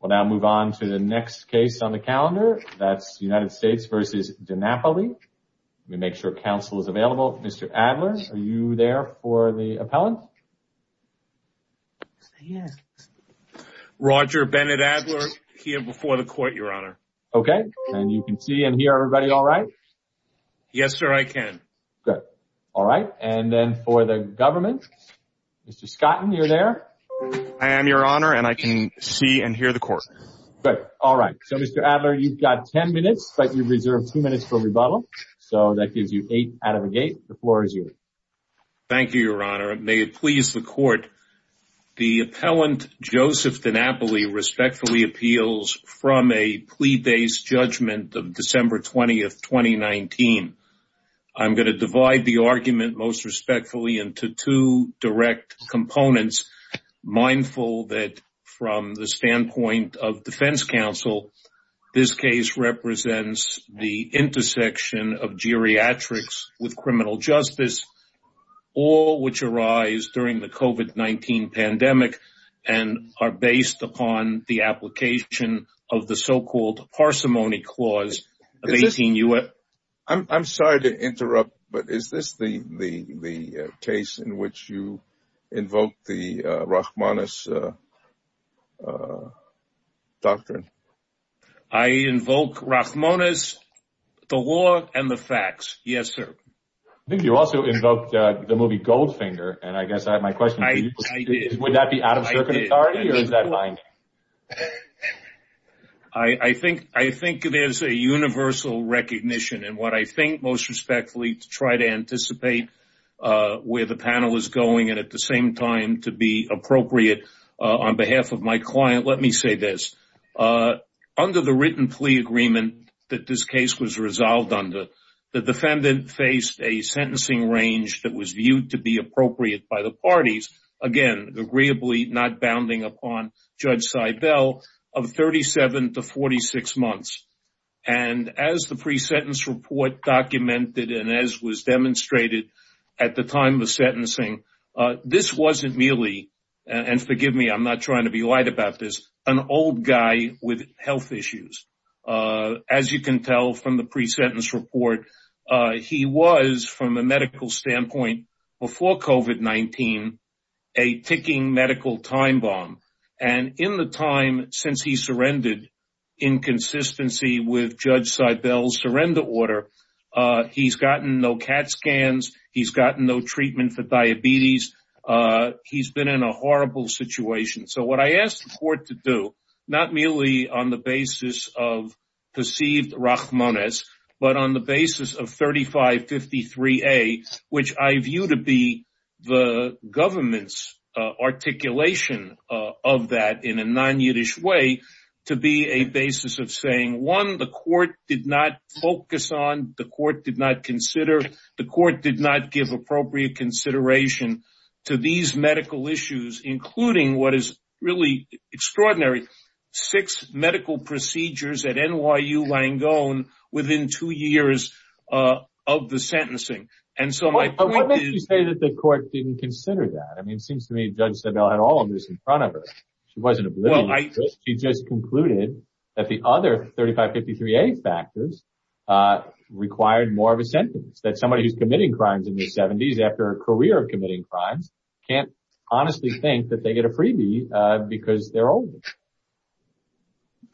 We'll now move on to the next case on the calendar that's United States v. DiNapoli. Let me make sure counsel is available. Mr. Adler are you there for the appellant? Roger Bennett Adler here before the court your honor. Okay and you can see and hear everybody all right? Yes sir I can. Good all right and then for the government? Mr. Scotton you're there? I am your honor and I can see and hear the court. Good all right so Mr. Adler you've got ten minutes but you've reserved two minutes for rebuttal so that gives you eight out of a gate the floor is yours. Thank you your honor may it please the court the appellant Joseph DiNapoli respectfully appeals from a plea-based judgment of December 20th 2019. I'm going to divide the argument most respectfully into two direct components mindful that from the standpoint of defense counsel this case represents the intersection of geriatrics with criminal justice all which arise during the COVID-19 pandemic and are based upon the application of the so-called parsimony clause of 18 U.S. I'm sorry to interrupt but is this the the case in which you invoke the Rachmaninoff doctrine? I invoke Rachmaninoff the law and the facts yes sir. I think you also invoked the movie Goldfinger and I guess I think I think it is a universal recognition and what I think most respectfully to try to anticipate where the panel is going and at the same time to be appropriate on behalf of my client let me say this under the written plea agreement that this case was resolved under the defendant faced a sentencing range that was viewed to be appropriate by the parties again agreeably not 46 months and as the pre-sentence report documented and as was demonstrated at the time the sentencing this wasn't merely and forgive me I'm not trying to be light about this an old guy with health issues as you can tell from the pre-sentence report he was from a medical standpoint before COVID-19 a the time since he surrendered in consistency with judge Seibel surrender order he's gotten no CAT scans he's gotten no treatment for diabetes he's been in a horrible situation so what I asked for it to do not merely on the basis of perceived Rachmaninoff but on the basis of 3553 a which I view to be the government's articulation of that in a non-Yiddish way to be a basis of saying one the court did not focus on the court did not consider the court did not give appropriate consideration to these medical issues including what is really extraordinary six medical procedures at NYU Langone within two years of the sentencing and so I say that the court didn't consider that I mean seems to me judge said I had all of this in front of her she wasn't a blue light she just concluded that the other 3553 a factors required more of a sentence that somebody who's committing crimes in the 70s after a career of committing crimes can't honestly think that they get a freebie because they're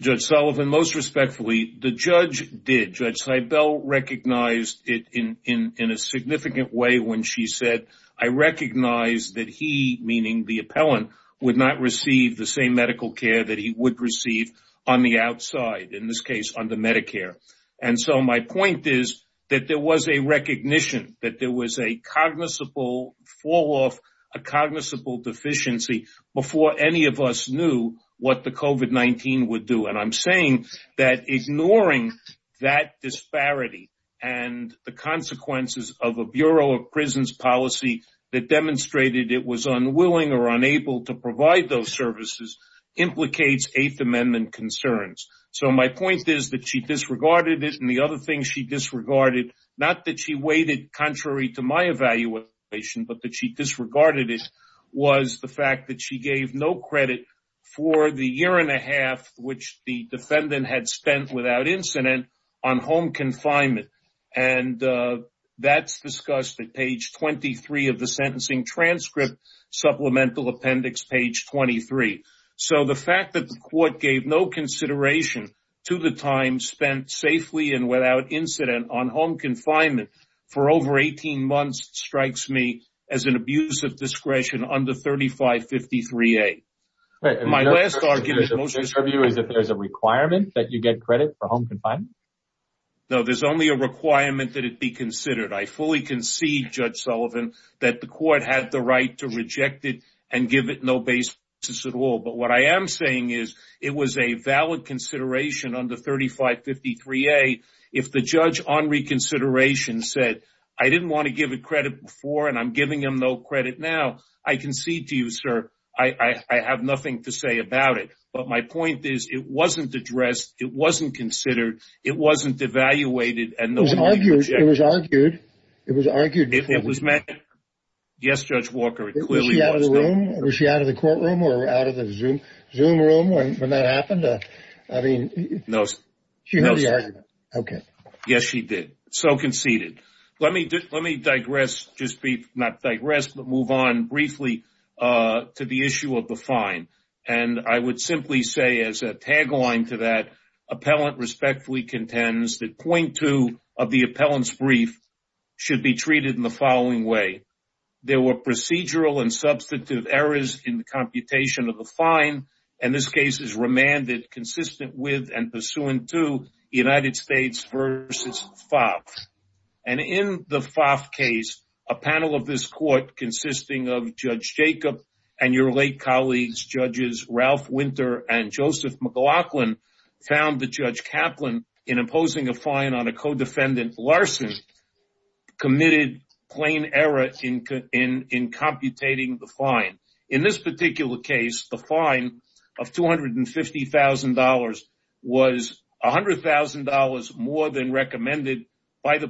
judge Sullivan most respectfully the judge did judge Seibel recognized it in in in a significant way when she said I recognize that he meaning the appellant would not receive the same medical care that he would receive on the outside in this case on the Medicare and so my point is that there was a recognition that there was a cognizable fall-off a cognizable deficiency before any of us knew what the COVID-19 would do and I'm saying that ignoring that disparity and the consequences of a Bureau of Prisons policy that demonstrated it was unwilling or unable to provide those services implicates Eighth Amendment concerns so my point is that she disregarded it and the other thing she disregarded not that she waited contrary to my evaluation but that she disregarded it was the fact that she gave no credit for the year and a half which the defendant had spent without incident on home confinement and that's discussed at page 23 of the sentencing transcript supplemental appendix page 23 so the fact that the court gave no consideration to the time spent safely and without incident on home confinement for over 18 months strikes me as an abuse of discretion under 3553 a my last argument is if there's a requirement that you get credit for home confinement no there's only a requirement that it be considered I fully concede judge Sullivan that the court had the right to reject it and give it no basis at all but what I am saying is it was a valid consideration under 3553 a if the judge on reconsideration said I didn't want to give a credit for and I'm giving him no credit now I concede to you sir I I have nothing to say about it but my point is it wasn't addressed it wasn't considered it wasn't evaluated and it was argued it was argued it was argued if it was not digress but move on briefly to the issue of the fine and I would simply say as a tagline to that appellant respectfully contends that point two of the appellant's brief should be treated in the following way there were procedural and substantive errors in the computation of the fine and this case is remanded consistent with and pursuant to United States versus Fox and in the FAF case a panel of this court consisting of judge Jacob and your late colleagues judges Ralph winter and Joseph McLaughlin found the judge Kaplan in imposing a fine on a co-defendant Larson committed plain error in in in computating the fine in this particular case the fine of two hundred and fifty thousand dollars was a hundred thousand dollars more than recommended by the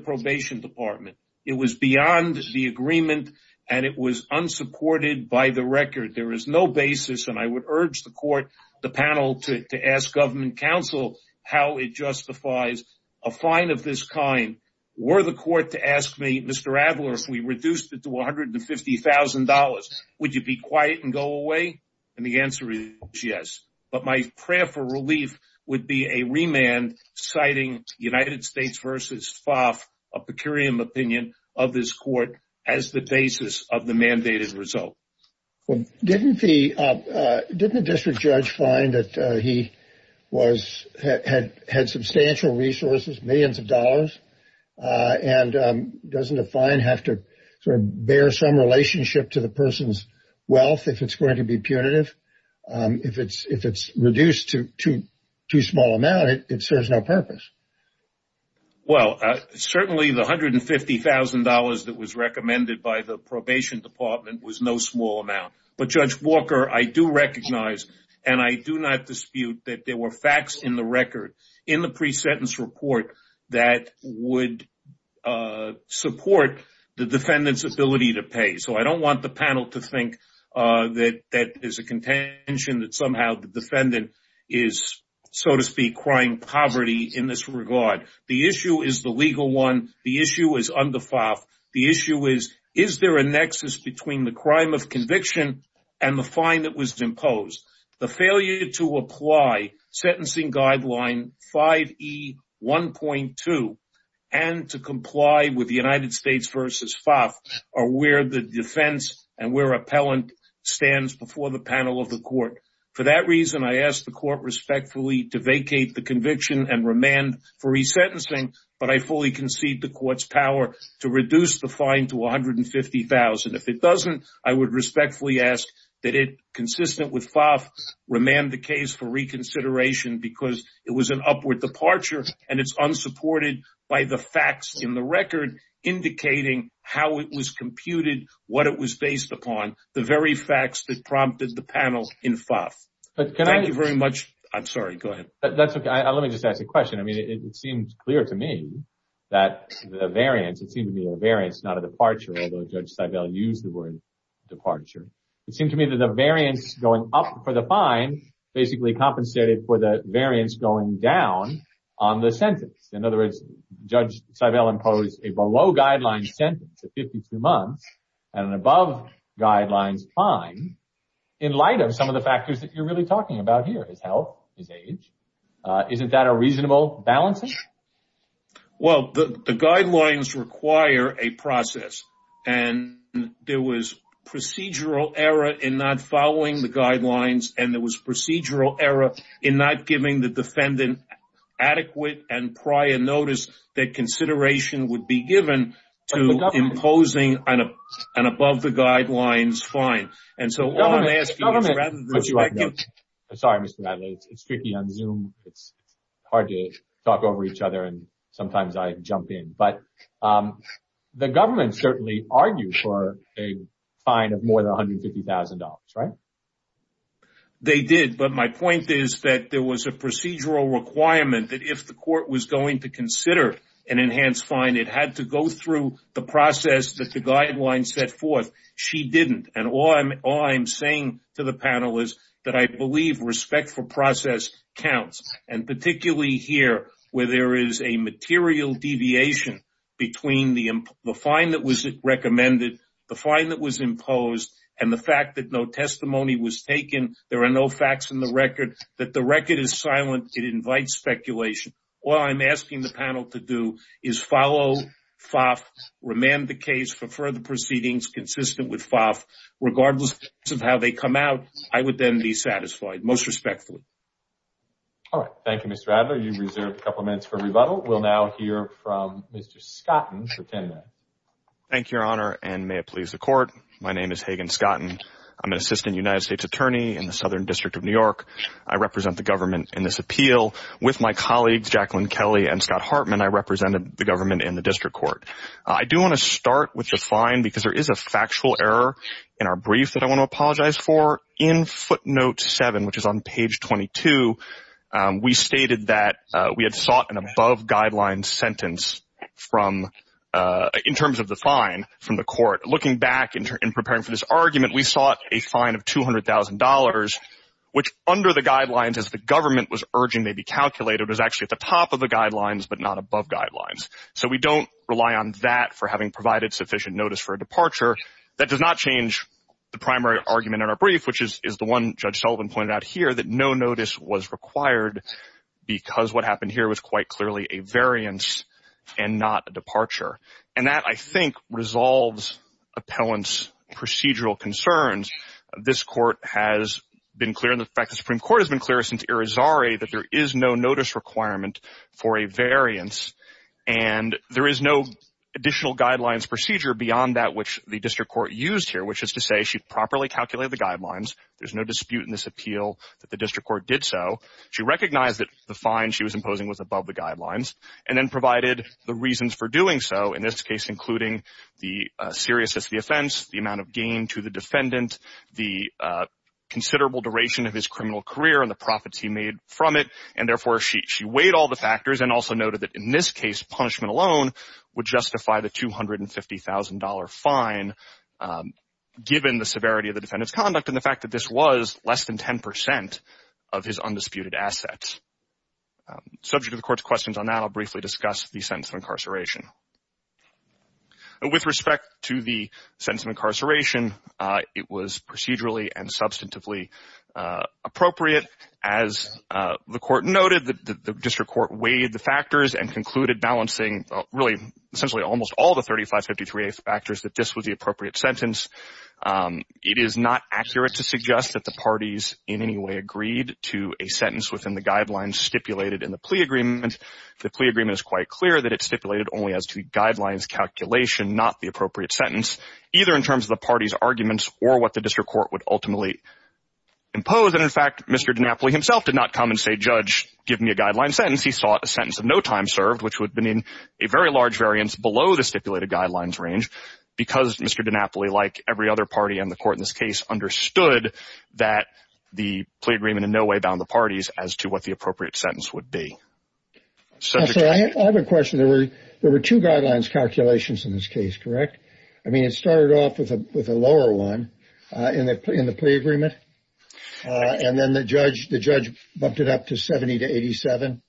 agreement and it was unsupported by the record there is no basis and I would urge the court the panel to ask government counsel how it justifies a fine of this kind were the court to ask me Mr. Adler if we reduced it to one hundred and fifty thousand dollars would you be quiet and go away and the answer is yes but my prayer for relief would be a remand citing United States versus FAF a peculiar opinion of this court as the basis of the mandated result didn't the district judge find that he was had had substantial resources millions of dollars and doesn't a fine have to bear some relationship to the person's wealth if it's going to be punitive if it's if it's reduced to two small amount it serves no purpose well certainly the hundred and fifty thousand dollars that was recommended by the probation department was no small amount but Judge Walker I do recognize and I do not dispute that there were facts in the record in the pre-sentence report that would support the defendant's ability to pay so I don't want the panel to think that that is a contention that somehow defendant is so to speak crying poverty in this regard the issue is the legal one the issue is under FAF the issue is is there a nexus between the crime of conviction and the fine that was imposed the failure to apply sentencing guideline 5E1.2 and to comply with the United States versus FAF are where the defense and where appellant stands before the panel of the court for that reason I asked the court respectfully to vacate the conviction and remand for resentencing but I fully concede the court's power to reduce the fine to a hundred and fifty thousand if it doesn't I would respectfully ask that it consistent with FAF remand the case for reconsideration because it was an upward departure and it's unsupported by the facts in the record indicating how it was computed what it was based upon the very facts that prompted the panel in FAF. Thank you very much I'm sorry go ahead. That's okay let me just ask a question I mean it seems clear to me that the variance it seemed to be a variance not a departure although Judge Seibel used the word departure it seemed to me that the variance going up for the fine basically compensated for the variance going down on the sentence in other words Judge Seibel imposed a below guidelines sentence of 52 months and an above guidelines fine in light of some of the factors that you're really talking about here his health his age isn't that a reasonable balancing? Well the guidelines require a process and there was procedural error in not following the guidelines and there was procedural error in not giving the defendant adequate and prior notice that to imposing an above the guidelines fine and so all I'm asking is rather than I'm sorry Mr. Bradley it's tricky on Zoom it's hard to talk over each other and sometimes I jump in but the government certainly argued for a fine of more than $150,000 right? They did but my point is that there was a procedural requirement that if the court was going to consider an enhanced fine and it had to go through the process that the guidelines set forth she didn't and all I'm all I'm saying to the panel is that I believe respect for process counts and particularly here where there is a material deviation between the fine that was recommended the fine that was imposed and the fact that no testimony was taken there are no facts in the record that the record is silent it invites speculation all I'm asking the panel to do is follow FOF, remand the case for further proceedings consistent with FOF regardless of how they come out I would then be satisfied most respectfully. Thank you Mr. Adler you reserved a couple minutes for rebuttal we'll now hear from Mr. Scotton. Thank you your honor and may it please the court my name is Hagan Scotton I'm an assistant United States Attorney in the Southern District of New York I represent the government in this appeal with my colleagues Jacqueline Kelly and Scott Hartman I represented the government in the district court I do want to start with the fine because there is a factual error in our brief that I want to apologize for in footnote 7 which is on page 22 we stated that we had sought an above-guidelines sentence from in terms of the fine from the court looking back in preparing for this argument we sought a fine of two under the guidelines as the government was urging they be calculated was actually at the top of the guidelines but not above guidelines so we don't rely on that for having provided sufficient notice for a departure that does not change the primary argument in our brief which is the one Judge Sullivan pointed out here that no notice was required because what happened here was quite clearly a variance and not a departure and that I think resolves appellants procedural concerns this court has been clear in the fact the Supreme Court has been clear since Irizarry that there is no notice requirement for a variance and there is no additional guidelines procedure beyond that which the district court used here which is to say she properly calculated the guidelines there's no dispute in this appeal that the district court did so she recognized that the fine she was imposing was above the guidelines and then provided the reasons for doing so in this case including the seriousness of the offense the amount of gain to the defendant the considerable duration of his criminal career and the profits he made from it and therefore she weighed all the factors and also noted that in this case punishment alone would justify the $250,000 fine given the severity of the defendant's conduct and the fact that this was less than 10% of his undisputed assets subject to the court's questions on that I'll briefly discuss the sentence of incarceration with respect to the sentence of incarceration it was procedurally and substantively appropriate as the court noted that the district court weighed the factors and concluded balancing really essentially almost all the 3553 factors that this was the appropriate sentence it is not accurate to suggest that the parties in any way agreed to a sentence within the guidelines stipulated in the plea agreement the plea agreement is quite clear that it's stipulated only as to guidelines calculation not the appropriate sentence either in terms of the party's arguments or what the district court would ultimately impose and in fact mr. DiNapoli himself did not come and say judge give me a guideline sentence he sought a sentence of no time served which would have been in a very large variance below the stipulated guidelines range because mr. DiNapoli like every other party on the court in this case understood that the plea agreement in no way bound the parties as to what the appropriate sentence would be so I have a question there were there were two guidelines calculations in this case correct I mean it started off with a with a lower one in that put in the plea agreement and then the judge the judge bumped it up to 70 to 87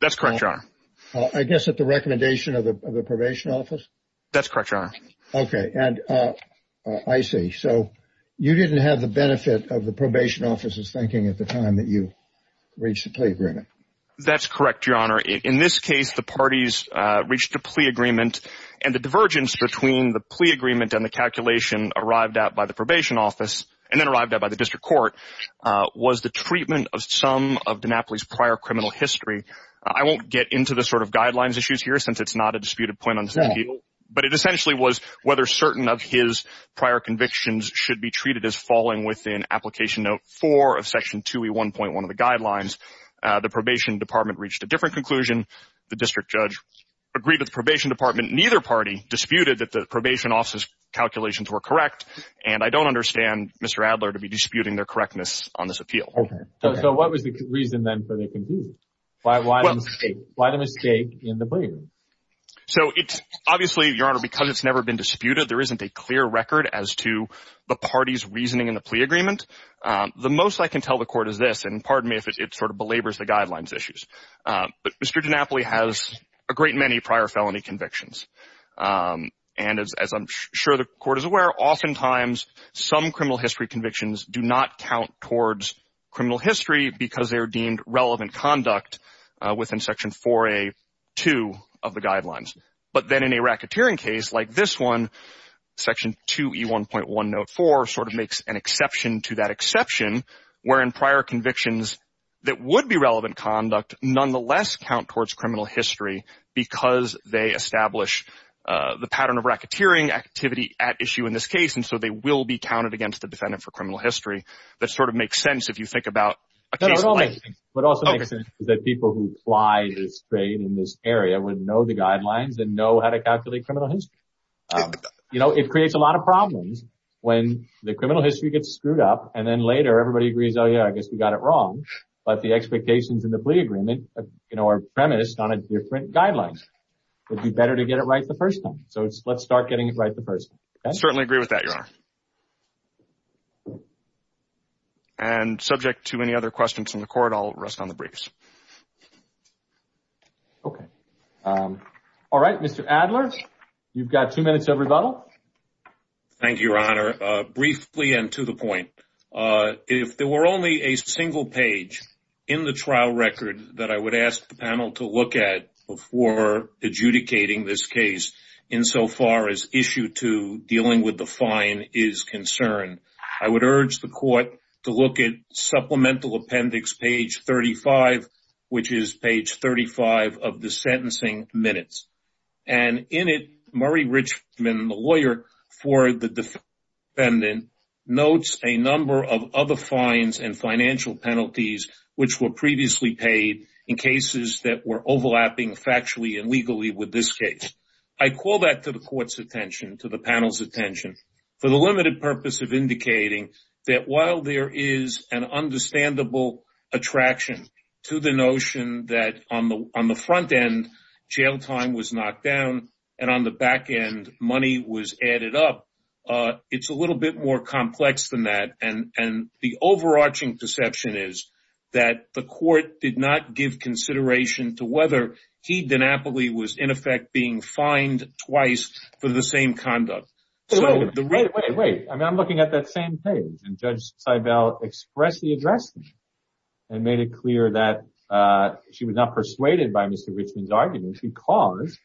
that's correct I guess at the recommendation of the probation office that's correct okay and I see so you didn't have the benefit of the probation office's thinking at the time that you reach the plea agreement that's correct your honor in this case the parties reached a plea agreement and the divergence between the plea agreement and the calculation arrived out by the probation office and then arrived at by the district court was the treatment of some of DiNapoli's prior criminal history I won't get into the sort of guidelines issues here since it's not a disputed point on some people but it essentially was whether certain of his prior convictions should be treated as in application note 4 of section 2e 1.1 of the guidelines the probation department reached a different conclusion the district judge agreed with probation department neither party disputed that the probation office calculations were correct and I don't understand mr. Adler to be disputing their correctness on this appeal okay so what was the reason then for the conclusion why why why the mistake in the plea so it's obviously your honor because it's never been disputed there isn't a clear record as to the party's plea agreement the most I can tell the court is this and pardon me if it sort of belabors the guidelines issues but mr. DiNapoli has a great many prior felony convictions and as I'm sure the court is aware oftentimes some criminal history convictions do not count towards criminal history because they are deemed relevant conduct within section 4a 2 of the guidelines but then in a to that exception wherein prior convictions that would be relevant conduct nonetheless count towards criminal history because they establish the pattern of racketeering activity at issue in this case and so they will be counted against the defendant for criminal history that sort of makes sense if you think about that people who fly this trade in this area would know the guidelines and know how to calculate criminal history you know it creates a when the criminal history gets screwed up and then later everybody agrees oh yeah I guess we got it wrong but the expectations in the plea agreement you know are premised on a different guidelines would be better to get it right the first time so it's let's start getting it right the first I certainly agree with that your honor and subject to any other questions in the court I'll rest on the briefs okay all right mr. Adler you've got two minutes of thank you your honor briefly and to the point if there were only a single page in the trial record that I would ask the panel to look at before adjudicating this case insofar as issue to dealing with the fine is concerned I would urge the court to look at supplemental appendix page 35 which is page 35 of the the defendant notes a number of other fines and financial penalties which were previously paid in cases that were overlapping factually and legally with this case I call that to the court's attention to the panel's attention for the limited purpose of indicating that while there is an understandable attraction to the notion that on the on the front end jail time was knocked down and on the back end money was added up it's a little bit more complex than that and and the overarching perception is that the court did not give consideration to whether he'd been aptly was in effect being fined twice for the same conduct so the right way I'm looking at that same page and judge Seibel expressly addressed and made it clear that she was not persuaded by mr. Richmond's argument because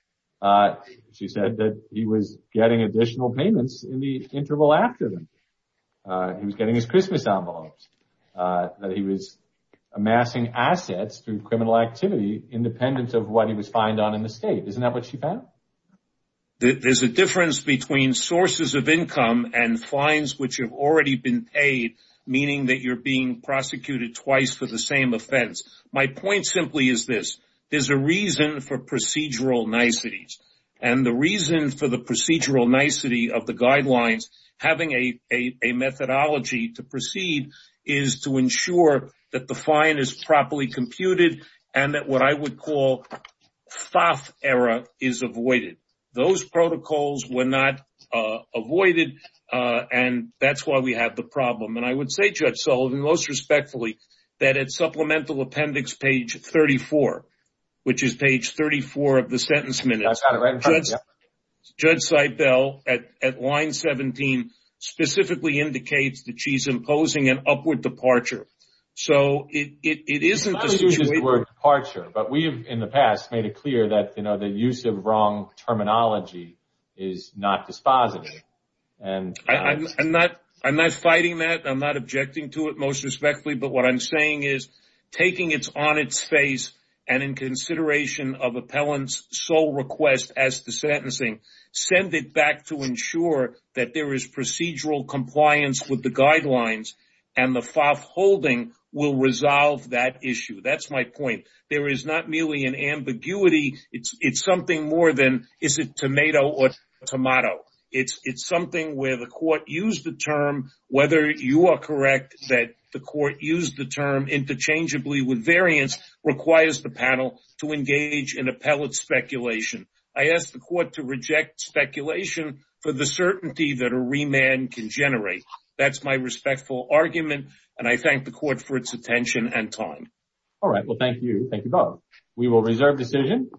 she said that he was getting additional payments in the interval after them he was getting his Christmas envelopes that he was amassing assets through criminal activity independent of what he was fined on in the state isn't that what she found that there's a difference between sources of income and fines which have already been paid meaning that you're being prosecuted twice for the same offense my point simply is this is a reason for procedural niceties and the reason for the procedural nicety of the guidelines having a a methodology to proceed is to ensure that the fine is properly computed and that what I would call soft error is avoided those protocols were not avoided and that's why we have the problem and I would say most respectfully that it's supplemental appendix page 34 which is page 34 of the sentence minutes judge Seibel at line 17 specifically indicates that she's imposing an upward departure so it isn't departure but we have in the past made it clear that you know the use of wrong terminology is not dispositive and I'm not I'm not fighting that I'm not objecting to it most respectfully but what I'm saying is taking its on its face and in consideration of appellants sole request as the sentencing send it back to ensure that there is procedural compliance with the guidelines and the fop holding will resolve that issue that's my point there is not merely an ambiguity it's it's something more than is it tomato or you are correct that the court used the term interchangeably with variance requires the panel to engage in a pellet speculation I asked the court to reject speculation for the certainty that a remand can generate that's my respectful argument and I thank the court for its attention and time we will reserve decision